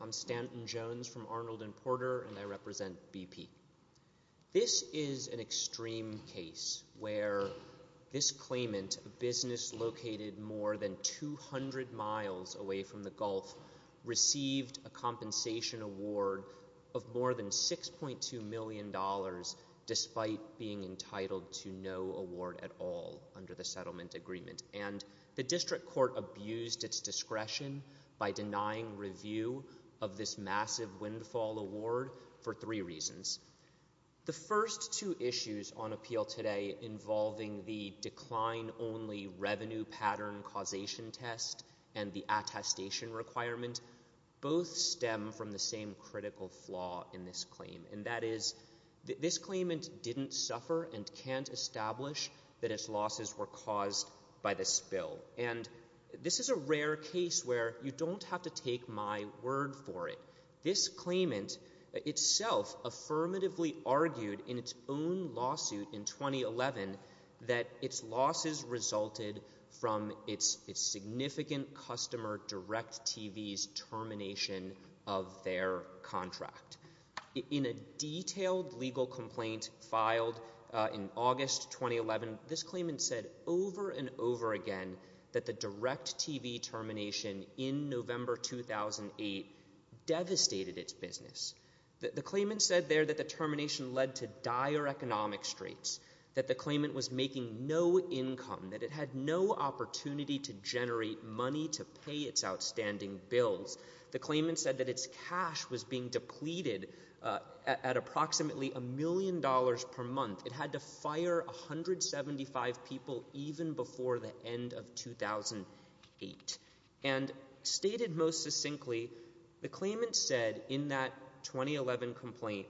I'm Stanton Jones from Arnold & Porter, and I represent BP. This is an extreme case where this claimant, a business located more than 200 miles away from the Gulf, received a compensation award of more than $6.2 million despite being entitled to no award at all under the settlement agreement. And the district court abused its discretion by denying review of this massive windfall award for three reasons. The first two issues on appeal today involving the decline-only revenue pattern causation test and the attestation requirement both stem from the same critical flaw in this claim, and that is this claimant didn't suffer and can't establish that its losses were caused by the spill. And this is a rare case where you don't have to take my word for it. This claimant itself affirmatively argued in its own lawsuit in 2011 that its losses resulted from its significant customer DirecTV's termination of their contract. In a detailed legal complaint filed in August 2011, this claimant said over and over again that the DirecTV termination in November 2008 devastated its business. The claimant said there that the termination led to dire economic straits, that the claimant was making no income, that it had no opportunity to generate money to pay its outstanding bills. The claimant said that its cash was being depleted at approximately $1 million per month. It had to fire 175 people even before the end of 2008. And stated most succinctly, the claimant said in that 2011 complaint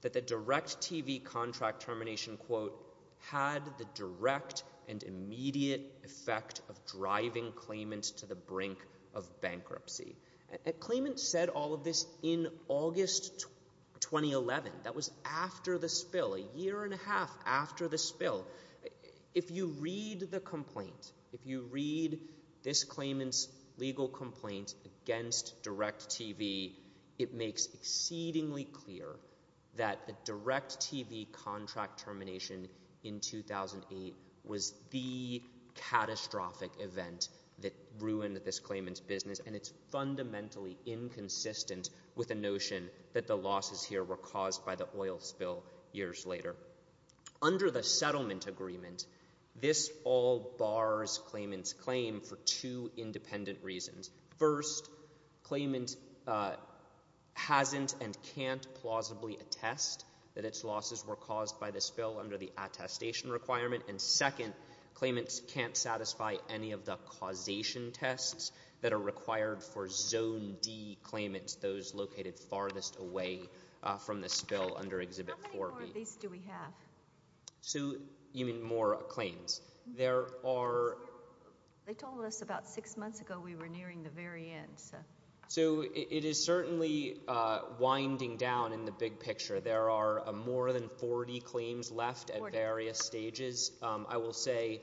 that the DirecTV contract termination, quote, had the direct and immediate effect of driving claimants to the brink of bankruptcy. A claimant said all of this in August 2011. That was after the spill, a year and a half after the spill. If you read the complaint, if you read this claimant's legal complaint against DirecTV, it makes exceedingly clear that the DirecTV contract termination in 2008 was the catastrophic event that ruined this claimant's business. And it's fundamentally inconsistent with the notion that the losses here were caused by the oil spill years later. Under the settlement agreement, this all bars claimant's for two independent reasons. First, claimant hasn't and can't plausibly attest that its losses were caused by the spill under the attestation requirement. And second, claimants can't satisfy any of the causation tests that are required for Zone D claimants, those located farthest away from the spill under Exhibit 4B. These do we have? You mean more claims? They told us about six months ago we were nearing the very end. It is certainly winding down in the big picture. There are more than 40 claims left at various stages. I will say,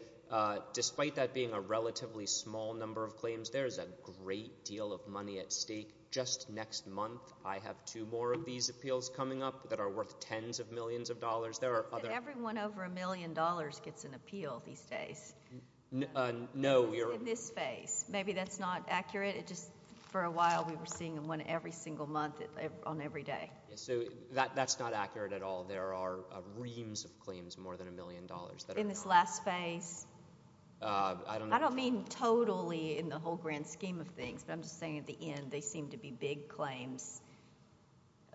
despite that being a relatively small number of claims, there is a great deal of money at stake. Just next month, I have two more of these appeals coming up that are worth tens of millions of dollars. Everyone over a million dollars gets an appeal these days. In this phase. Maybe that's not accurate. For a while we were seeing one every single month on every day. That's not accurate at all. There are reams of claims more than a million dollars. In this last phase? I don't mean totally in the whole grand scheme of things, but I'm just saying at the end they seem to be big claims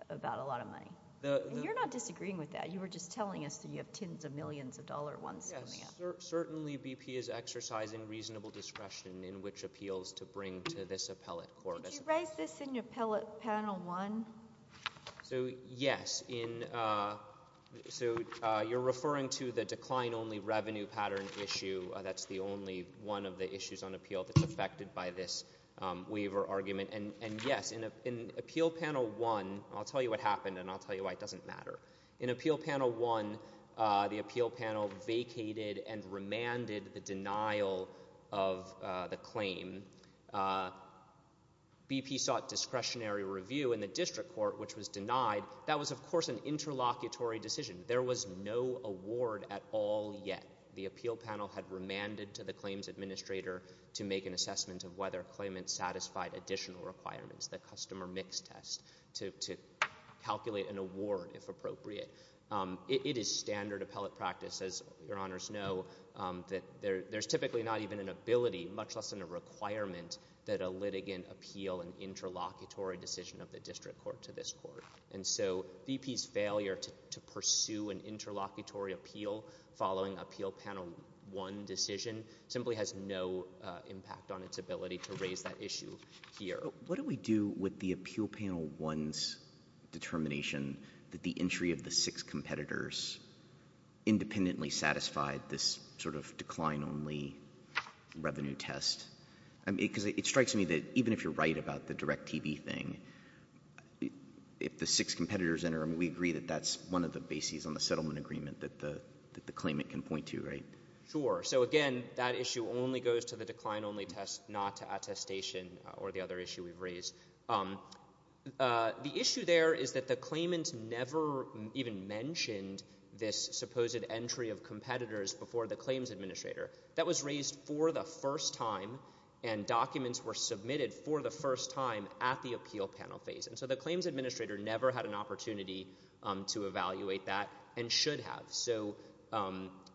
about a lot of money. You're not disagreeing with that. You were just telling us you have tens of millions of dollars coming up. Certainly BP is exercising reasonable discretion in which appeals to bring to this appellate court. Did you raise this in your panel one? Yes. You're referring to the decline only revenue pattern issue. That's the only one of the issues on appeal that's affected by this waiver argument. Yes. In appeal panel one, I'll tell you what happened and I'll tell you why it doesn't matter. In appeal panel one, the appeal panel vacated and remanded the denial of the district court which was denied. That was of course an interlocutory decision. There was no award at all yet. The appeal panel had remanded to the claims administrator to make an assessment of whether a claimant satisfied additional requirements, the customer mix test, to calculate an award if appropriate. It is standard appellate practice, as your honors know, that there's typically not even an ability, much less than a requirement, that a litigant appeal an interlocutory decision of the district court to this court. And so BP's failure to pursue an interlocutory appeal following appeal panel one decision simply has no impact on its ability to raise that issue here. What do we do with the appeal panel one's determination that the entry of the six competitors independently satisfied this sort of decline only revenue test? Because it strikes me that even if you're right about the direct TV thing, if the six competitors enter, we agree that that's one of the bases on the settlement agreement that the claimant can point to, right? Sure. So again, that issue only goes to the decline only test, not to attestation or the other issue we've raised. The issue there is that the claimant never even mentioned this supposed entry of competitors before the claims administrator. That was raised for the first time and documents were submitted for the first time at the appeal panel phase. And so the claims administrator never had an opportunity to evaluate that and should have. So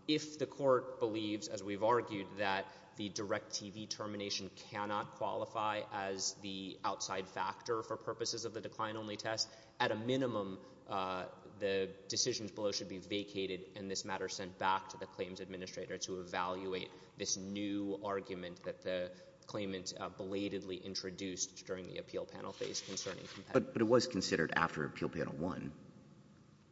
if the court believes, as we've argued, that the direct TV termination cannot qualify as the outside factor for purposes of the decline only test, at a minimum, the decisions below should be vacated and this matter sent back to the claims administrator to evaluate this new argument that the claimant belatedly introduced during the appeal panel phase concerning competitors. But it was considered after appeal panel one.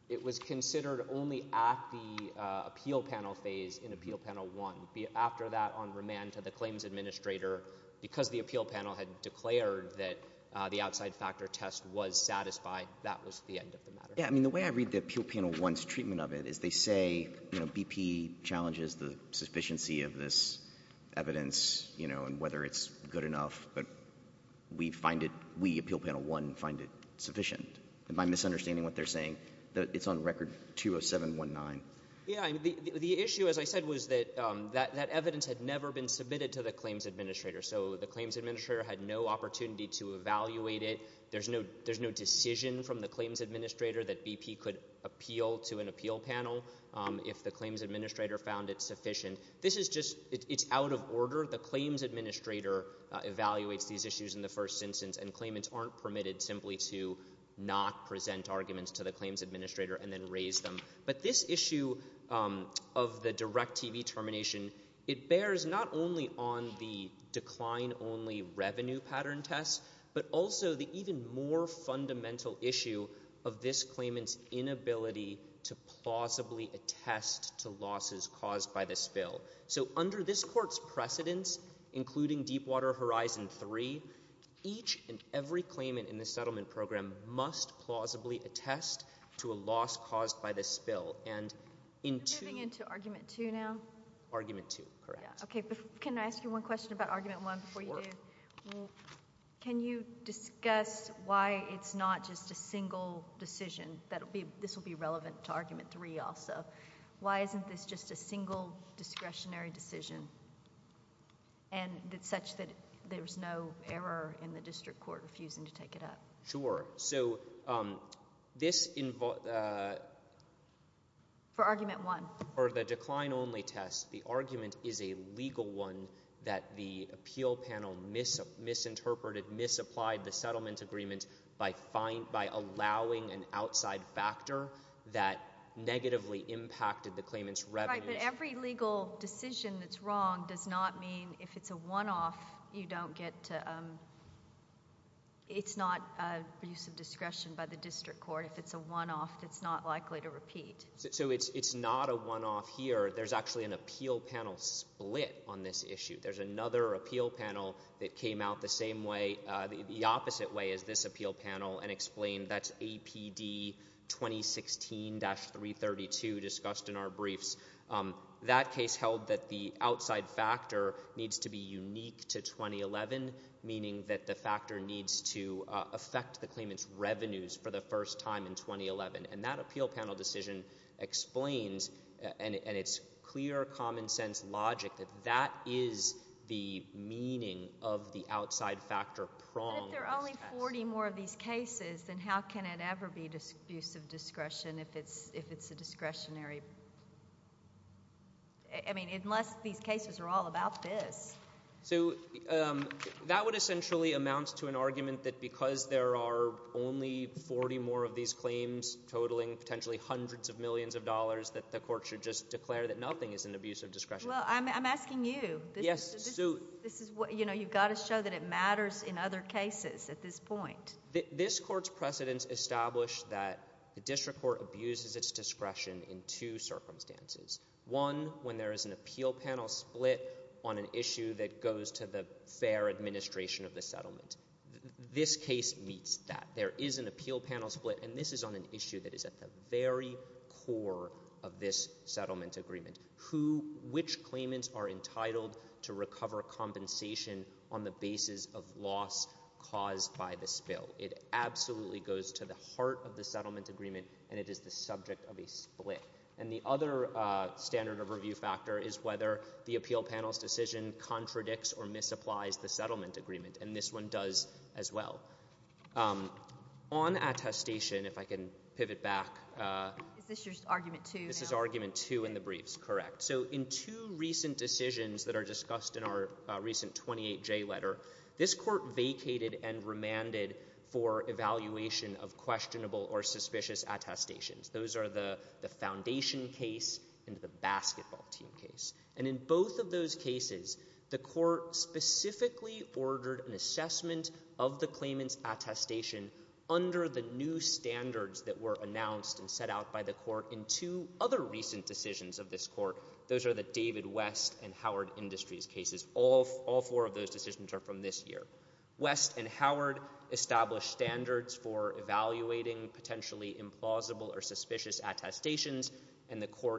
It was considered only at the appeal panel phase in appeal panel one. After that, on remand to the claims administrator, because the appeal panel had declared that the outside factor test was satisfied, that was the end of the matter. Yeah. I mean, the way I read the appeal panel one's treatment of it is they say BP challenges the sufficiency of this evidence, you know, and whether it's good enough. But we find it, we, appeal panel one, find it sufficient. And by the way, the issue, as I said, was that that evidence had never been submitted to the claims administrator. So the claims administrator had no opportunity to evaluate it. There's no decision from the claims administrator that BP could appeal to an appeal panel if the claims administrator found it sufficient. This is just, it's out of order. The claims administrator evaluates these issues in the first instance and claimants aren't permitted simply to not appeal to an appeal panel. And so, when we look at the direct TV termination, it bears not only on the decline only revenue pattern test, but also the even more fundamental issue of this claimant's inability to plausibly attest to losses caused by the spill. So under this court's precedence, including Deepwater Horizon 3, each and every claimant in the settlement program must plausibly attest to a loss caused by the spill. And in two... Are we moving into argument two now? Argument two, correct. Okay, but can I ask you one question about argument one before you do? Sure. Can you discuss why it's not just a single decision that will be, this will be relevant to argument three also. Why isn't this just a single discretionary decision? And it's such that there's no error in the district court refusing to take it up. Sure. So this... For argument one. For the decline only test, the argument is a legal one that the appeal panel misinterpreted, misapplied the settlement agreement by allowing an outside factor that negatively impacted the claimant's revenues. Right, but every legal decision that's wrong does not mean if it's a one-off, you don't get to, it's not a use of discretion by the district court. If it's a one-off, it's not likely to repeat. So it's not a one-off here. There's actually an appeal panel split on this issue. There's another appeal panel that came out the same way, the opposite way as this appeal panel, and explained that's APD 2016-332 discussed in our briefs. That case held that the outside factor needs to be unique to 2011, meaning that the factor needs to affect the claimant's revenues for the first time in 2011. And that appeal panel decision explains, and it's clear common sense logic that that is the meaning of the outside factor prong. But if there are only 40 more of these cases, then how can it ever be use of discretion if it's a discretionary... I mean, unless these cases are all about this. So that would essentially amount to an argument that because there are only 40 more of these claims, totaling potentially hundreds of millions of dollars, that the court should just not use discretion. And you've got to show that it matters in other cases at this point. This Court's precedents establish that the district court abuses its discretion in two circumstances. One, when there is an appeal panel split on an issue that goes to the fair administration of the settlement. This case meets that. There is an appeal panel split, and this is on an issue that is at the very core of this settlement agreement. Which claimants are entitled to recover compensation on the basis of loss caused by the spill? It absolutely goes to the heart of the settlement agreement, and it is the subject of a split. And the other standard of review factor is whether the appeal panel's decision contradicts or misapplies the settlement agreement. And this one does as well. On attestation, if I can pivot back... Is this your argument two now? This is argument two in the briefs, correct. So in two recent decisions that are discussed in our recent 28J letter, this Court vacated and remanded for evaluation of questionable or suspicious attestations. Those are the foundation case and the basketball team case. And in both of those cases, the Court specifically ordered an assessment of the claimant's attestation under the new standards that were announced and set out by the Court in two other recent decisions of this Court. Those are the David West and Howard Industries cases. All four of those decisions are from this year. West and Howard established standards for evaluation,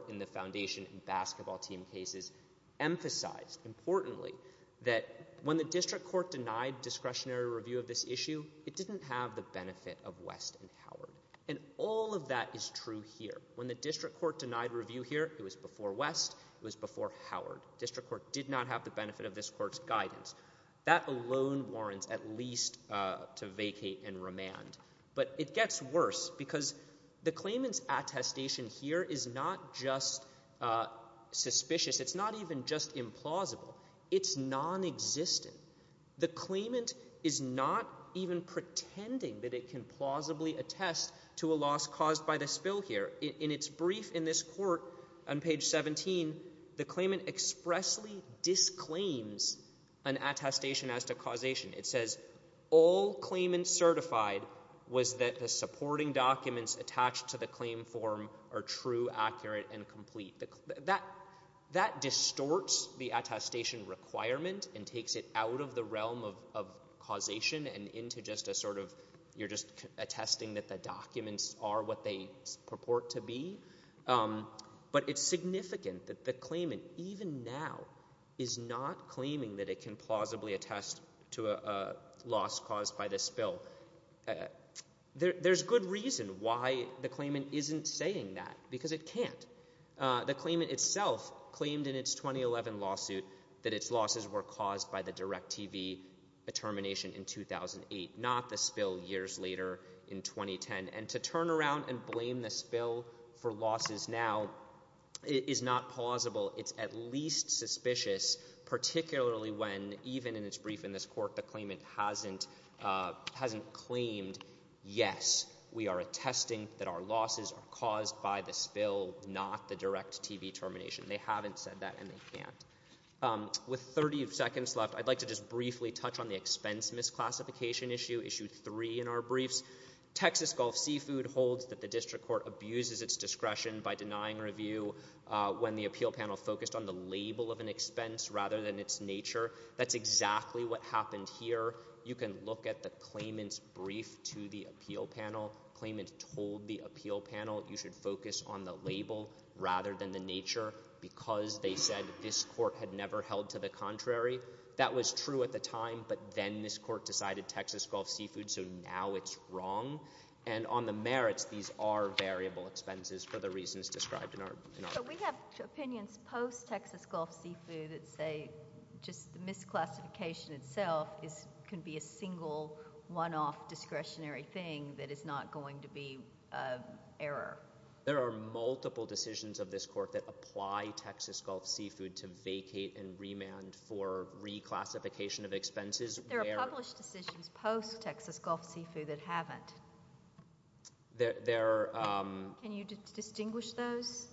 and the foundation and basketball team cases emphasized, importantly, that when the district court denied discretionary review of this issue, it didn't have the benefit of West and Howard. And all of that is true here. When the district court denied review here, it was before West, it was before Howard. District court did not have the benefit of this Court's guidance. That alone warrants at least to vacate and remand. But it gets worse because the claimant's attestation here is not just suspicious. It's not even just implausible. It's nonexistent. The claimant is not even pretending that it can plausibly attest to a loss caused by the spill here. In its brief in this Court on page 17, the claimant expressly disclaims an attestation as to causation. It says, all claimants certified was that the supporting documents attached to the claim form are true, accurate, and complete. That distorts the attestation requirement and takes it out of the realm of causation and into just a sort of, you're just attesting that the documents are what they purport to be. But it's significant that the claimant, even now, is not claiming that it can plausibly attest to a loss caused by the spill. There's good reason why the claimant isn't saying that, because it can't. The claimant itself claimed in its 2011 lawsuit that its losses were caused by the DirecTV termination in 2008, not the spill years later in 2010. And to turn around and blame the spill for losses now is not plausible. It's at least suspicious, particularly when even in its brief in this Court, the claimant hasn't claimed, yes, we are attesting that our losses are caused by the spill, not the DirecTV termination. They haven't said that, and they can't. With 30 seconds left, I'd like to just briefly touch on the expense misclassification issue, Issue 3 in our briefs. Texas Gulf Seafood holds that the District Court abuses its discretion by denying review when the appeal panel focused on the label of an expense rather than its nature. That's exactly what happened here. You can look at the claimant's brief to the appeal panel. The claimant told the appeal panel you should focus on the label rather than the nature because they said this Court had never held to the contrary. That was true at the time, but then this Court decided Texas Gulf Seafood, so now it's wrong. And on the merits, these are variable expenses for the reasons described in our brief. But we have opinions post-Texas Gulf Seafood that say just the misclassification itself can be a single, one-off discretionary thing that is not going to be an error. There are multiple decisions of this Court that apply Texas Gulf Seafood to vacate and remand for reclassification of expenses. There are published decisions post-Texas Gulf Seafood that haven't. Can you distinguish those?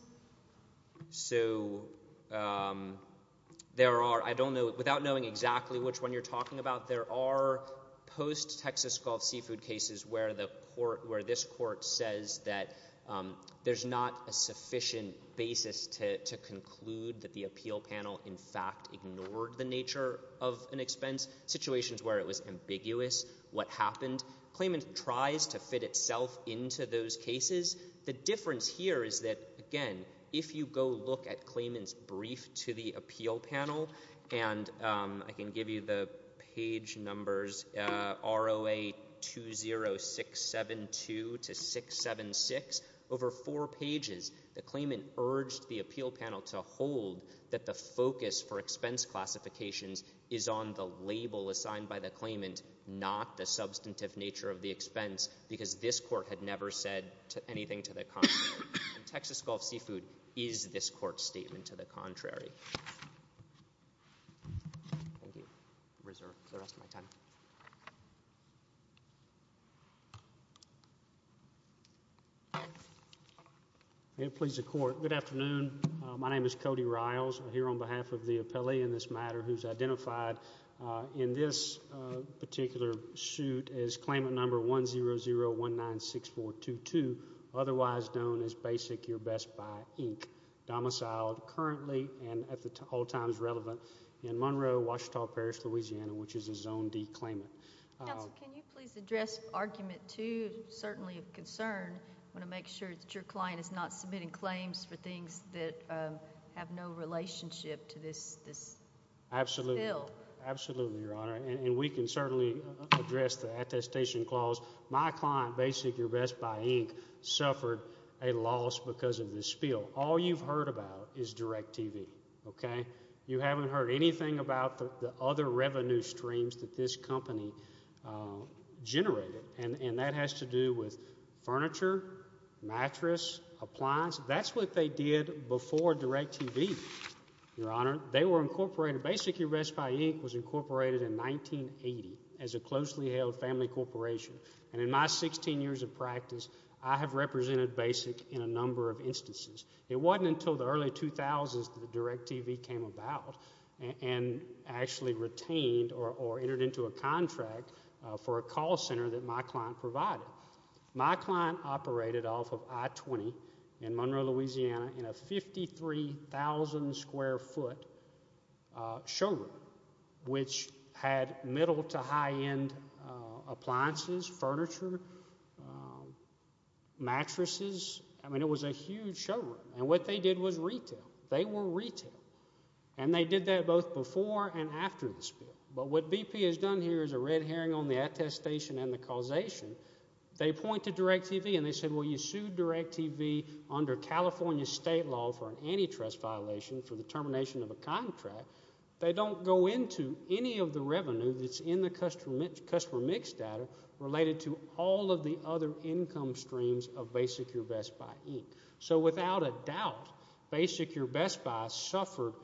So there are, I don't know, without knowing exactly which one you're talking about, there are post-Texas Gulf Seafood cases where this Court says that there's not a sufficient basis to conclude that the appeal panel, in fact, ignored the nature of an expense, situations where it was ambiguous what happened. Claimant tries to fit itself into those cases. The difference here is that, again, if you go look at claimant's brief to the appeal panel, and I can give you the page numbers, ROA 20672-676, over four pages, the claimant urged the appeal panel to hold that the focus for expense classifications is on the label assigned by the claimant, not the substantive nature of the expense, because this Texas Gulf Seafood is this Court's statement to the contrary. Thank you. Reserved for the rest of my time. May it please the Court. Good afternoon. My name is Cody Riles. I'm here on behalf of the appellee in this matter who's identified in this particular suit as 100196422, otherwise known as Basic Your Best Buy, Inc., domiciled currently and at all times relevant in Monroe, Ouachita Parish, Louisiana, which is a Zone D claimant. Counsel, can you please address argument two, certainly of concern? I want to make sure that your client is not submitting claims for things that have no relationship to this bill. Absolutely, Your Honor, and we can certainly address the attestation clause. My client, Basic Your Best Buy, Inc., suffered a loss because of this spill. All you've heard about is DirecTV, okay? You haven't heard anything about the other revenue streams that this company generated, and that has to do with furniture, mattress, appliance. That's what they did before DirecTV, Your Honor. Basic Your Best Buy, Inc. was incorporated in 1980 as a closely held family corporation, and in my 16 years of practice, I have represented Basic in a number of instances. It wasn't until the early 2000s that DirecTV came about and actually retained or entered into a contract for a call center that my client provided. My client operated off of I-20 in Monroe, Louisiana, in a 53,000 square foot showroom, which had middle to high-end appliances, furniture, mattresses. I mean, it was a huge showroom, and what they did was retail. They were retail, and they did that both before and in the causation. They pointed to DirecTV, and they said, well, you sued DirecTV under California state law for an antitrust violation for the termination of a contract. They don't go into any of the revenue that's in the customer mix data related to all of the other income streams of Basic Your Best Buy, Inc. So without a doubt, Basic Your Best Buy suffered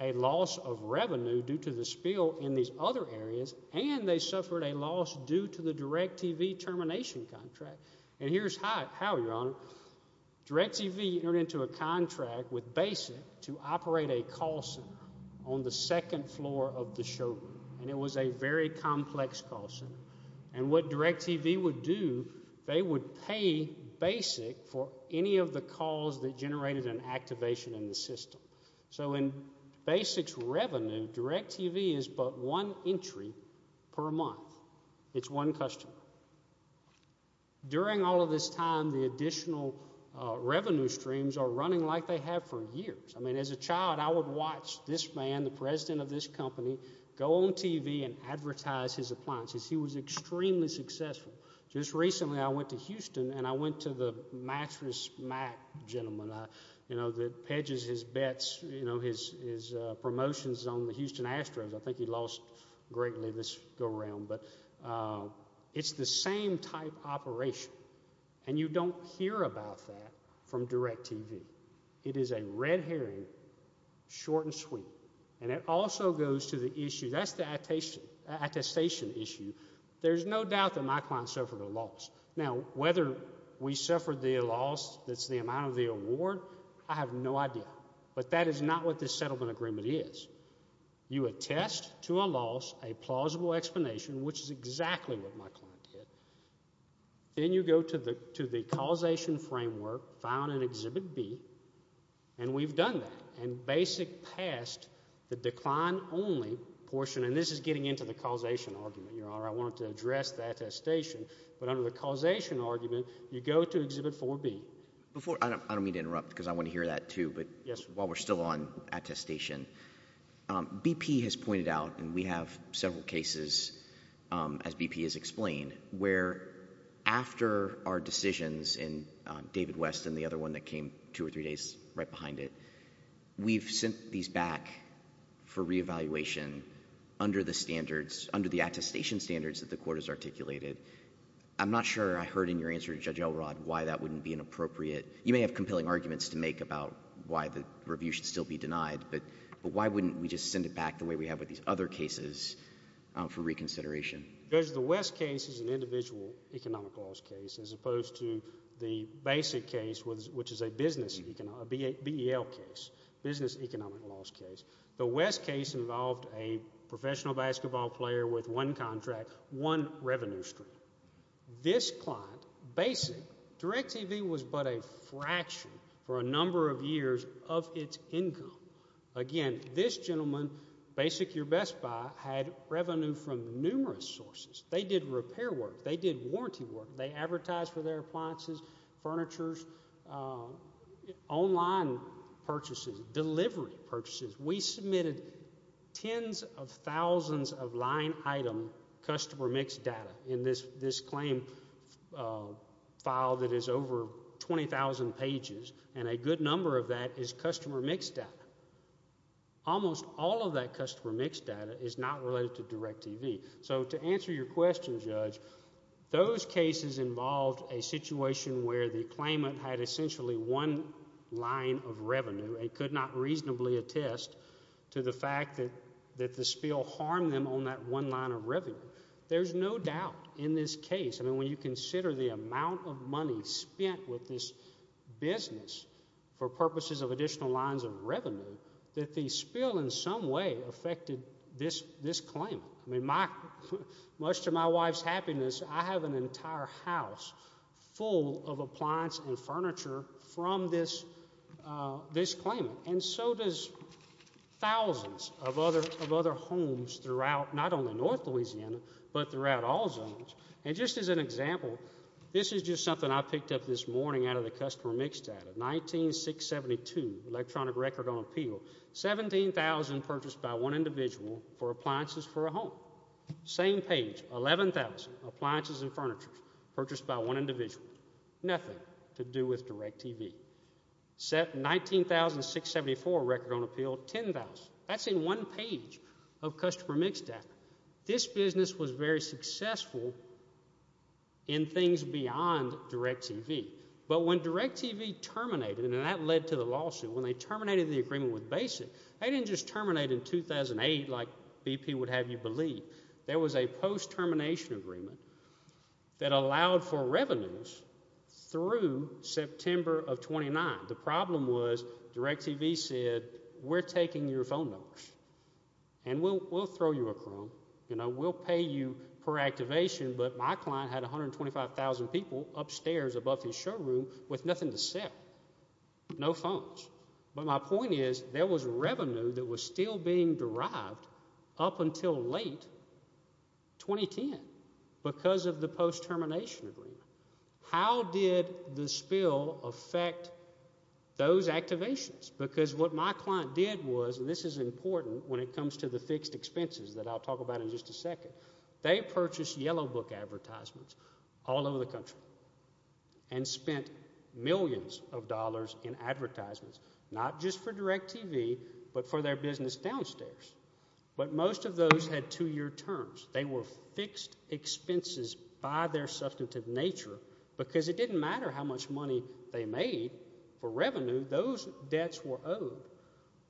a loss of revenue due to the spill in these other areas, and they suffered a loss due to the DirecTV termination contract. And here's how, Your Honor. DirecTV entered into a contract with Basic to operate a call center on the second floor of the showroom, and it was a very complex call center. And what DirecTV would do, they would pay Basic for any of the calls that generated an activation in the system. So in Basic's revenue, DirecTV is but one entry per month. It's one customer. During all of this time, the additional revenue streams are running like they have for years. I mean, as a child, I would watch this man, the president of this company, go on TV and advertise his appliances. He was extremely successful. Just recently, I went to Houston, and I went to the Mattress Mac gentleman that pedges his bets, his promotions on the Houston Astros. I think he lost greatly this go-around. It's the same type operation, and you don't hear about that from DirecTV. It is a red herring, short and sweet. And it looks like that my client suffered a loss. Now, whether we suffered the loss that's the amount of the award, I have no idea. But that is not what this settlement agreement is. You attest to a loss a plausible explanation, which is exactly what my client did. Then you go to the causation framework, found in Exhibit B, and we've done that. And Basic passed the attestation. But under the causation argument, you go to Exhibit 4B. I don't mean to interrupt, because I want to hear that, too, but while we're still on attestation, BP has pointed out, and we have several cases, as BP has explained, where after our decisions in David West and the other one that came two or three days right behind it, we've sent these back for reconsideration. I'm not sure I heard in your answer to Judge Elrod why that wouldn't be inappropriate. You may have compelling arguments to make about why the review should still be denied, but why wouldn't we just send it back the way we have with these other cases for reconsideration? Judge, the West case is an individual economic loss case, as opposed to the Basic case, which is a BEL case, business economic loss case. The West case involved a professional basketball player with one contract, one revenue stream. This client, Basic, DirecTV was but a fraction for a number of years of its income. Again, this gentleman, Basic Your Best Buy, had revenue from numerous sources. They did repair work. They did warranty work. They advertised for their appliances, furnitures, online purchases, delivery purchases. We submitted tens of thousands of line item customer mix data in this claim file that is over 20,000 pages, and a good number of that is customer mix data. Almost all of that customer mix data is not related to DirecTV. So to answer your question, Judge, those cases involved a situation where the claimant had essentially one line of revenue and could not reasonably attest to the fact that the spill harmed them on that one line of revenue. There's no doubt in this case, I mean, when you consider the amount of money spent with this business for purposes of additional lines of revenue, that the spill in some way affected this claim. I mean, much to my wife's happiness, I have an entire house full of appliance and furniture from this claim. And so does thousands of other homes throughout not only north Louisiana, but throughout all zones. And just as an example, this is just something I picked up this morning out of the customer mix data. 19672, electronic record on appeal, 17,000 purchased by one individual for appliances for a home. Same page, 11,000 appliances and furniture purchased by one individual. Nothing to do with DirecTV. 19674, record on appeal, 10,000. That's in one page of customer mix data. This business was very successful in things beyond DirecTV. But when DirecTV terminated, and that led to the lawsuit, when they terminated the agreement with Basic, they didn't just terminate in 2008 like BP would have you believe. There was a post-termination agreement that allowed for revenues through September of 29. The problem was DirecTV said, we're taking your phone numbers, and we'll throw you a crumb. We'll pay you per activation. But my client had 125,000 people upstairs above his showroom with nothing to sell, no phones. But my point is, there was revenue that was still being derived up until late 2010 because of the post-termination agreement. How did the company do it? The way they did it was, and this is important when it comes to the fixed expenses that I'll talk about in just a second, they purchased yellow book advertisements all over the country and spent millions of dollars in advertisements, not just for DirecTV, but for their business downstairs. But most of those had two-year terms. They were fixed expenses by their substantive nature because it didn't matter how much money they made for revenue, those debts were owed.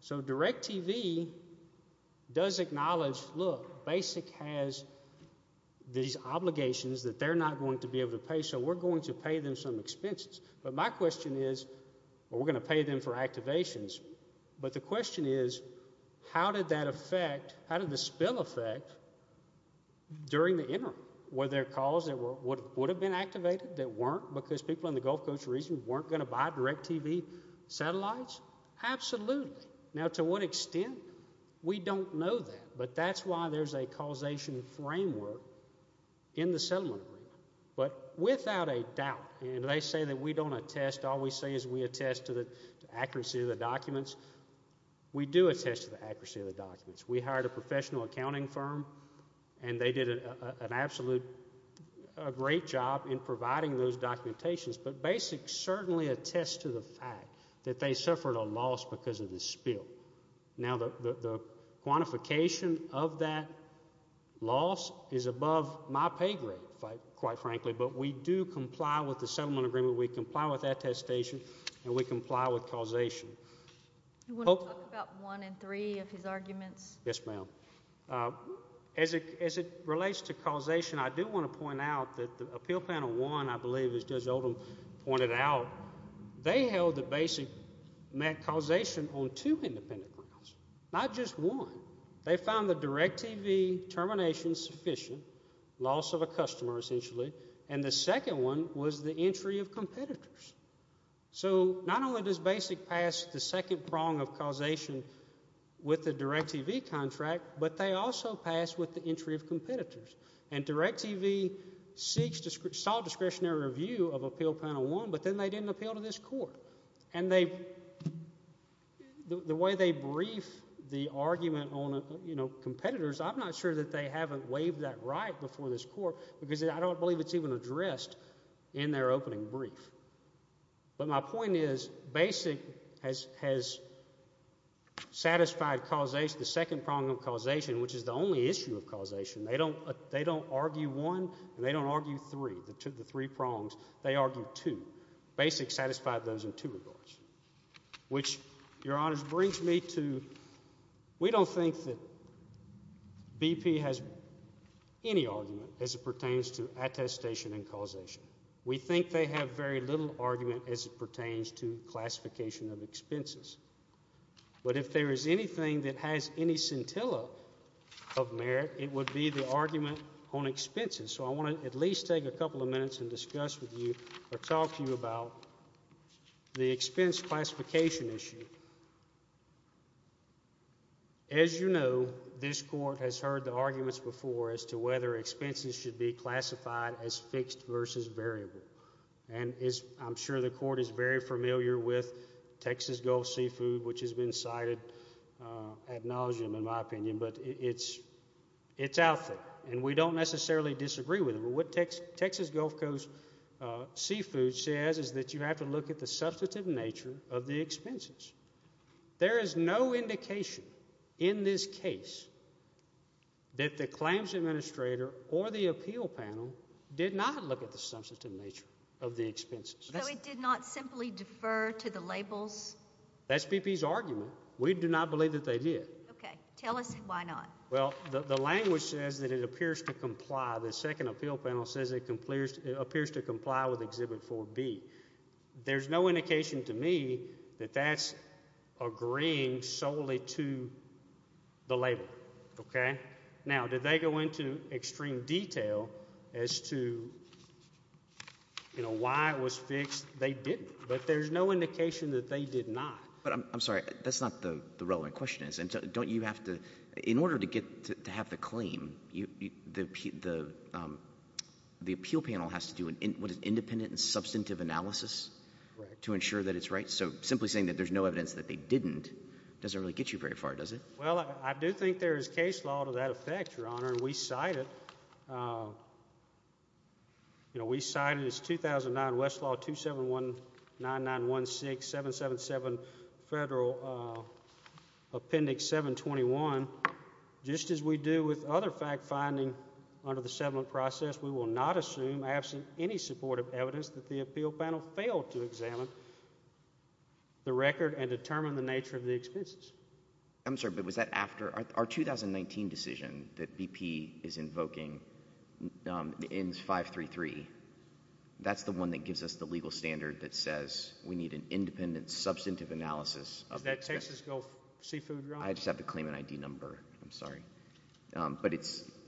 So DirecTV does acknowledge, look, Basic has these obligations that they're not going to be able to pay, so we're going to pay them some expenses. But my question is, we're going to pay them for activations, but the question is, how did that affect, how did the spill affect during the interim? Were there calls that would have been activated that weren't because people in the Gulf Coast region weren't going to buy DirecTV satellites? Absolutely. Now to what extent? We don't know that, but that's why there's a causation framework in the settlement agreement. But without a doubt, and they say that we don't attest, all we say is we attest to the accuracy of the documents, we do attest to the accuracy of the documents. We hired a professional accounting firm and they did an absolute, a great job in providing those documentations, but Basic certainly attests to the fact that they suffered a loss because of the spill. Now the quantification of that loss is above my pay grade, quite frankly, but we do comply with the You want to talk about one in three of his arguments? Yes, ma'am. As it relates to causation, I do want to point out that the appeal panel one, I believe, as Judge Oldham pointed out, they held that Basic met causation on two independent grounds, not just one. They found the DirecTV termination sufficient, loss of a customer essentially, and the second one was the entry of competitors. So not only does Basic pass the second prong of causation with the DirecTV contract, but they also pass with the entry of competitors. And DirecTV sought discretionary review of appeal panel one, but then they didn't appeal to this court. And the way they brief the argument on competitors, I'm not sure that they I don't believe it's even addressed in their opening brief. But my point is Basic has satisfied causation, the second prong of causation, which is the only issue of causation. They don't argue one, and they don't argue three, the three prongs. They argue two. Basic satisfied those in two regards, which, Your Honors, brings me to, we don't think that BP has any argument as it pertains to attestation and causation. We think they have very little argument as it pertains to classification of expenses. But if there is anything that has any scintilla of merit, it would be the argument on expenses. So I want to at least take a couple of minutes and discuss with you or talk to you about the arguments before as to whether expenses should be classified as fixed versus variable. And I'm sure the court is very familiar with Texas Gulf Seafood, which has been cited ad nauseum, in my opinion, but it's out there. And we don't necessarily disagree with it. But what Texas Gulf Coast Seafood says is that you have to look at the substantive nature of the expenses. There is no indication in this case that the claims administrator or the appeal panel did not look at the substantive nature of the expenses. So it did not simply defer to the labels? That's BP's argument. We do not believe that they did. Okay. Tell us why not. Well, the language says that it appears to comply. The second appeal panel says it appears to comply with Exhibit 4B. There's no indication to me that that's agreeing solely to the label. Okay. Now, did they go into extreme detail as to why it was fixed? They didn't. But there's no indication that they did not. But I'm sorry. That's not the relevant question. Don't you have to In order to have the claim, the appeal panel has to do an independent and substantive analysis to ensure that it's right? So simply saying that there's no evidence that they didn't doesn't really get you very far, does it? Well, I do think there is case law to that effect, Your Honor, and we cite it. We cite it as 2009 Westlaw 2719916777 Federal Appendix 721. Just as we do with other fact-finding under the settlement process, we will not assume, absent any supportive evidence, that the appeal panel failed to examine the record and determine the nature of the expenses. I'm sorry, but was that after our 2019 decision that BP is invoking the ENDS 533? That's the one that gives us the legal standard that says we need an independent substantive analysis. Is that Texas Gulf Seafood, Your Honor? I just have to claim an ID number. I'm sorry.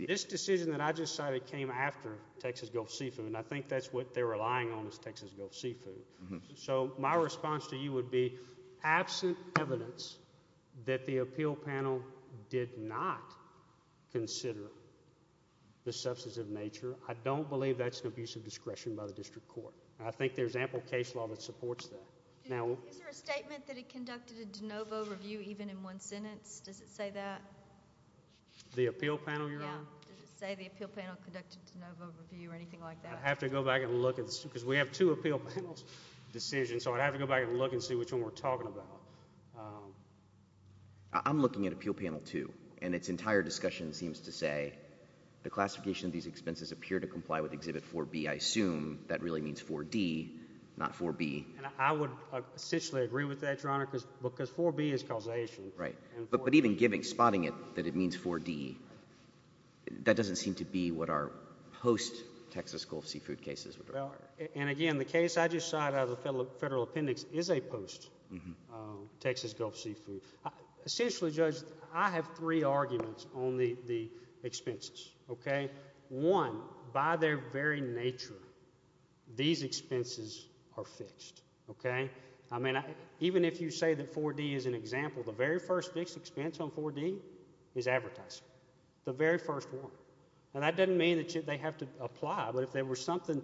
This decision that I just cited came after Texas Gulf Seafood, and I think that's what they're relying on is Texas Gulf Seafood. So my response to you would be absent evidence that the appeal panel did not consider the substantive nature. I don't believe that's an abuse of discretion by the district court. I think there's ample case law that supports that. Is there a statement that it conducted a de novo review even in one sentence? Does it say that? The appeal panel, Your Honor? Yeah. Does it say the appeal panel conducted a de novo review or anything like that? I'd have to go back and look, because we have two appeal panel decisions, so I'd have to go back and look and see which one we're talking about. I'm looking at Appeal Panel 2, and its entire discussion seems to say the classification of these expenses appear to comply with Exhibit 4B. I assume that really means 4D, not 4B. I would essentially agree with that, Your Honor, because 4B is causation. Right. But even giving, spotting it, that it means 4D, that doesn't seem to be what our post-Texas Gulf Seafood cases would require. And again, the case I just cited out of the Federal Appendix is a post-Texas Gulf Seafood. Essentially, Judge, I have three arguments on the expenses, okay? One, by their very nature, these expenses are fixed, okay? I mean, even if you say that 4D is an example, the very first fixed expense on 4D is advertising. The very first one. And that doesn't mean that they have to apply, but if there was something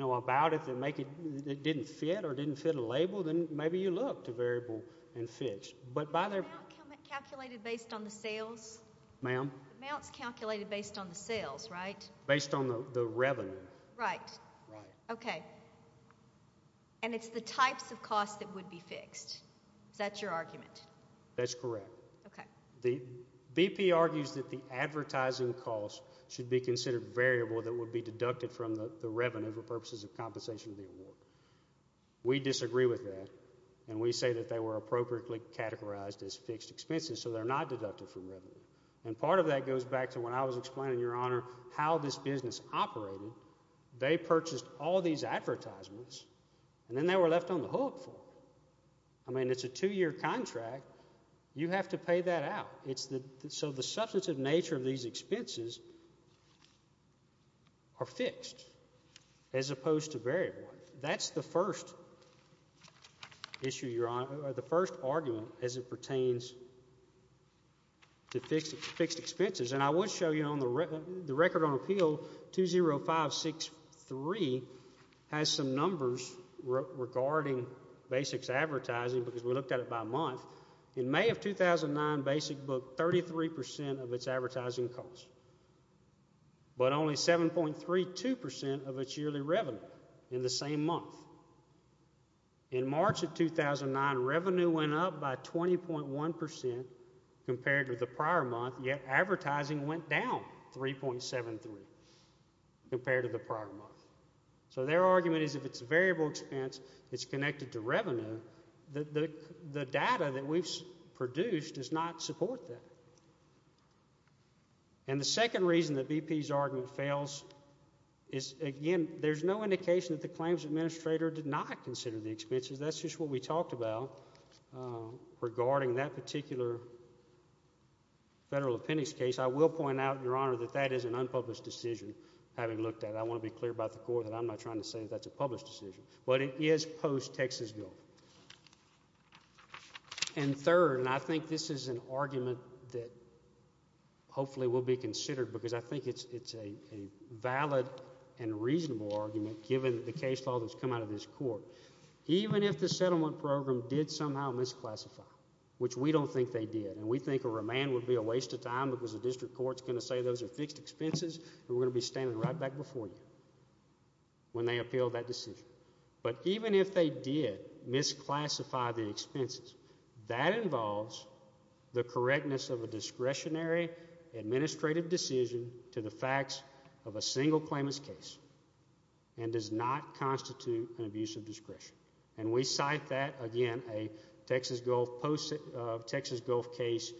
about it that didn't fit or didn't fit a label, then maybe you look to variable and fix. Amount calculated based on the sales? Ma'am? Amounts calculated based on the sales, right? Based on the revenue. Right. Right. Okay. And it's the types of costs that would be fixed. Is that your argument? That's correct. Okay. The BP argues that the advertising costs should be considered variable that would be deducted from the revenue for purposes of compensation of the award. We disagree with that, and we say that they were appropriately categorized as fixed expenses, so they're not deducted from revenue. And part of that goes back to when I was explaining, Your Honor, how this business operated. They purchased all these advertisements, and then they were left on the hook for it. I mean, it's a two-year contract. You have to pay that out. So the substantive nature of these expenses are fixed as opposed to variable. That's the first argument as it pertains to advertising, because we looked at it by month. In May of 2009, Basic booked 33% of its advertising costs, but only 7.32% of its yearly revenue in the same month. In March of 2009, revenue went up by 20.1% compared to the prior month, yet advertising went down 3.73 compared to the prior month. So their argument is if it's a variable expense that's connected to revenue, the data that we've produced does not support that. And the second reason that BP's argument fails is, again, there's no indication that the claims administrator did not consider the expenses. That's just what we talked about regarding that particular federal appendix case. I will point out, Your Honor, that that is an unpublished decision, having looked at it. I want to be clear about the court that I'm not trying to say that's a published decision, but it is post-Texas guilt. And third, and I think this is an argument that hopefully will be considered, because I think it's a valid and reasonable argument, given the case law that's come out of this court. Even if the settlement program did somehow misclassify, which we don't think they did, and we think a remand would be a waste of time because the district court's going to say those are fixed expenses, we're going to be standing right back before you when they appeal that decision. But even if they did misclassify the expenses, that involves the correctness of a discretionary administrative decision to the facts of a single claimant's case and does not constitute an abuse of discretion. And we cite that, again, a Texas Gulf case.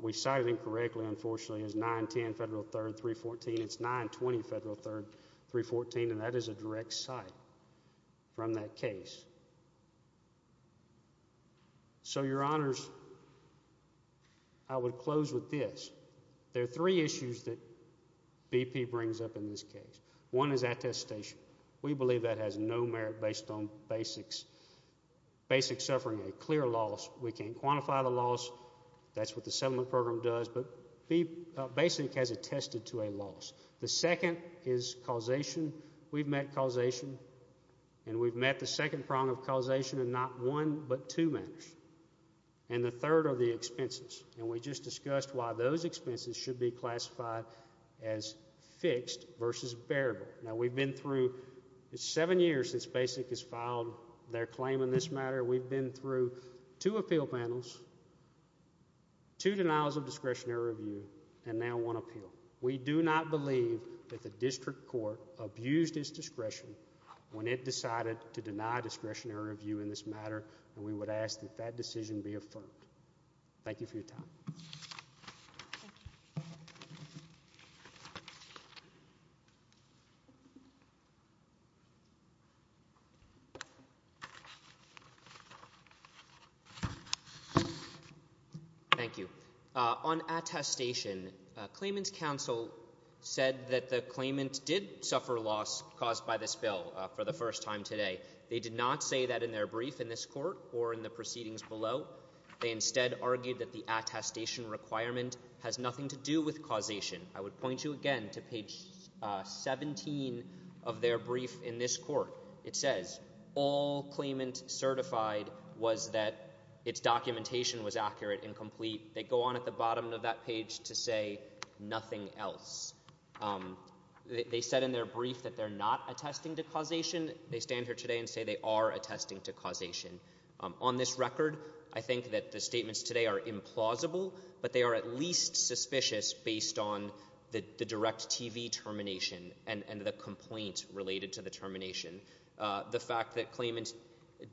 We cite it incorrectly, unfortunately, as 910 Federal 3rd 314. It's 920 Federal 3rd 314, and that is a direct cite from that case. So, Your Honors, I would close with this. There are three issues that BP brings up in this case. One is attestation. We believe that has no merit based on basic suffering, a clear loss. We can't quantify the loss. That's what the settlement program does, but basic has attested to a loss. The second is causation. We've met causation, and we've met the second prong of causation in not one but two matters. And the third are the expenses, and we just discussed why those expenses should be classified as fixed versus bearable. Now, we've been through seven years since basic has filed their claim in this matter. We've been through two appeal panels, two denials of discretionary review, and now one appeal. We do not believe that the district court abused its discretion when it decided to deny discretionary review in this matter, and we would ask that that decision be affirmed. Thank you for your time. Thank you. On attestation, Claimant Council said that the claimant did suffer loss caused by this bill for the first time today. They did not say that in their brief in this court or in the proceedings below. They instead argued that the attestation requirement has nothing to do with causation. I would point you again to page 17 of their brief in this court. It says all claimant certified was that its documentation was accurate and complete. They go on at the bottom of that page to say nothing else. They said in their brief that they're not attesting to causation. They stand here today and say they are attesting to causation. On this record, I think that the statements today are implausible, but they are at least suspicious based on the direct TV termination and the complaint related to the termination. The fact that claimant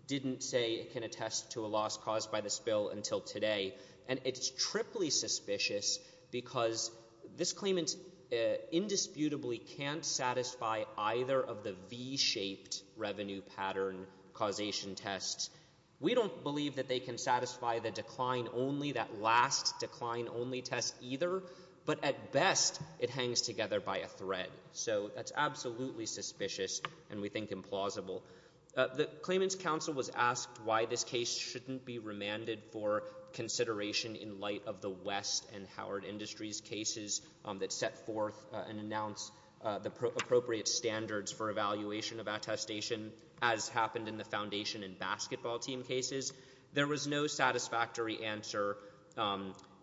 didn't say it can attest to a loss caused by this bill until today, and it's triply suspicious because this claimant indisputably can't satisfy either of the V-shaped revenue pattern causation tests. We don't believe that they can satisfy the decline only, that last decline only test either, but at best it hangs together by a thread. So that's absolutely suspicious and we think implausible. The claimant's counsel was asked why this case shouldn't be remanded for consideration in light of the West and Howard Industries cases that set forth and announced the appropriate standards for evaluation of attestation as happened in the foundation and basketball team cases. There was no satisfactory answer.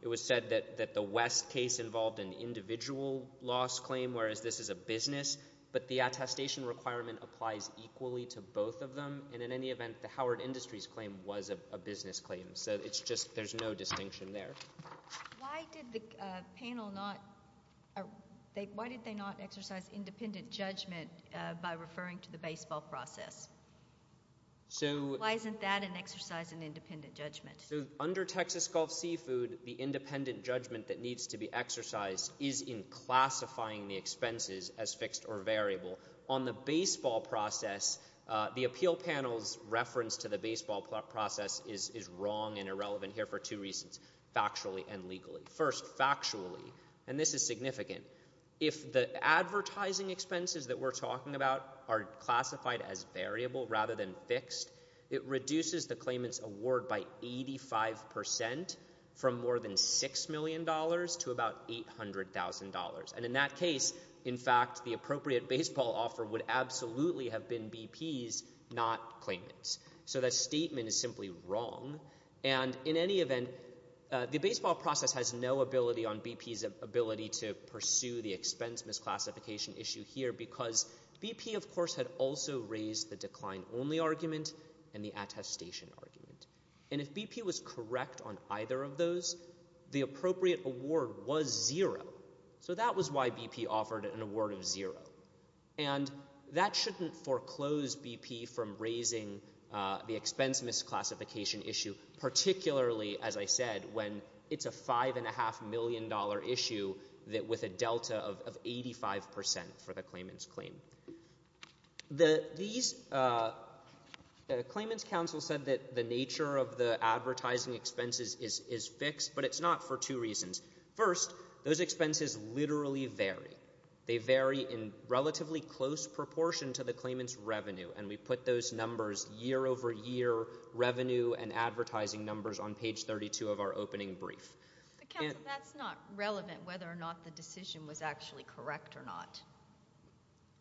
It was said that the West case involved an individual loss claim, whereas this is a business, but the attestation requirement applies equally to both of them, and in any event, the Howard Industries claim was a business claim, so there's no distinction there. Why did the panel not exercise independent judgment by referring to the baseball process? Why isn't that an exercise in independent judgment? Under Texas Gulf Seafood, the independent judgment that needs to be exercised is in classifying the expenses as fixed or variable. On the baseball process, the appeal panel's reference to the baseball process is wrong and irrelevant here for two reasons, factually and legally. First, factually, and this is significant, if the advertising expenses that we're talking about are classified as variable rather than fixed, it reduces the claimant's award by 85% from more than $6 million to about $800,000, and in that case, in fact, the appropriate baseball offer would absolutely have been BP's, not ours, and in any event, the baseball process has no ability on BP's ability to pursue the expense misclassification issue here because BP, of course, had also raised the decline only argument and the attestation argument, and if BP was correct on either of those, the appropriate award was zero, so that was why BP offered an award of zero, and that shouldn't foreclose BP from raising the expense misclassification issue, particularly, as I said, when it's a $5.5 million issue with a delta of 85% for the claimant's claim. The claimant's counsel said that the nature of the advertising expenses is fixed, but it's not for two reasons. First, those expenses literally vary. They vary in relatively close proportion to the claimant's revenue, and we put those numbers year over year, revenue and advertising numbers on page 32 of our opening brief. But counsel, that's not relevant whether or not the decision was actually correct or not.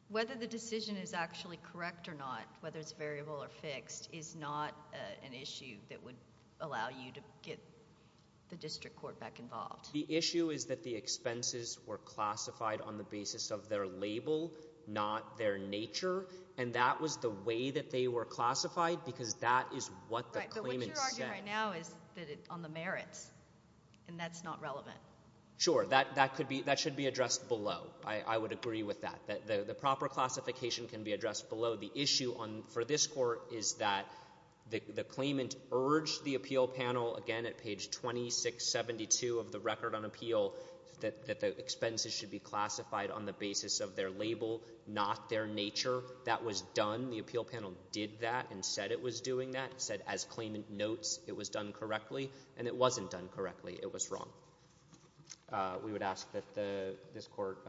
Whether the decision is actually correct or not, whether it's variable or fixed, is not an issue that would allow you to get the district court back involved. The issue is that the expenses were classified on the basis of their label, not their nature, and that was the way that they were classified, because that is what the claimant said. Right, but what you're arguing right now is that it's on the merits, and that's not relevant. Sure, that should be addressed below. I would agree with that. The proper classification can be addressed below. The issue for this court is that the claimant urged the appeal panel, again at page 2672 of the record on appeal, that the expenses should be classified on the basis of their label, not their nature. That was done. The appeal panel did that and said it was doing that, said as claimant notes it was done correctly, and it wasn't done correctly. It was wrong. We would ask that this court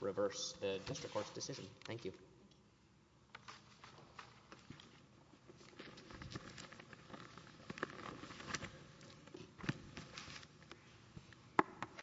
reverse the district court's decision. Thank you.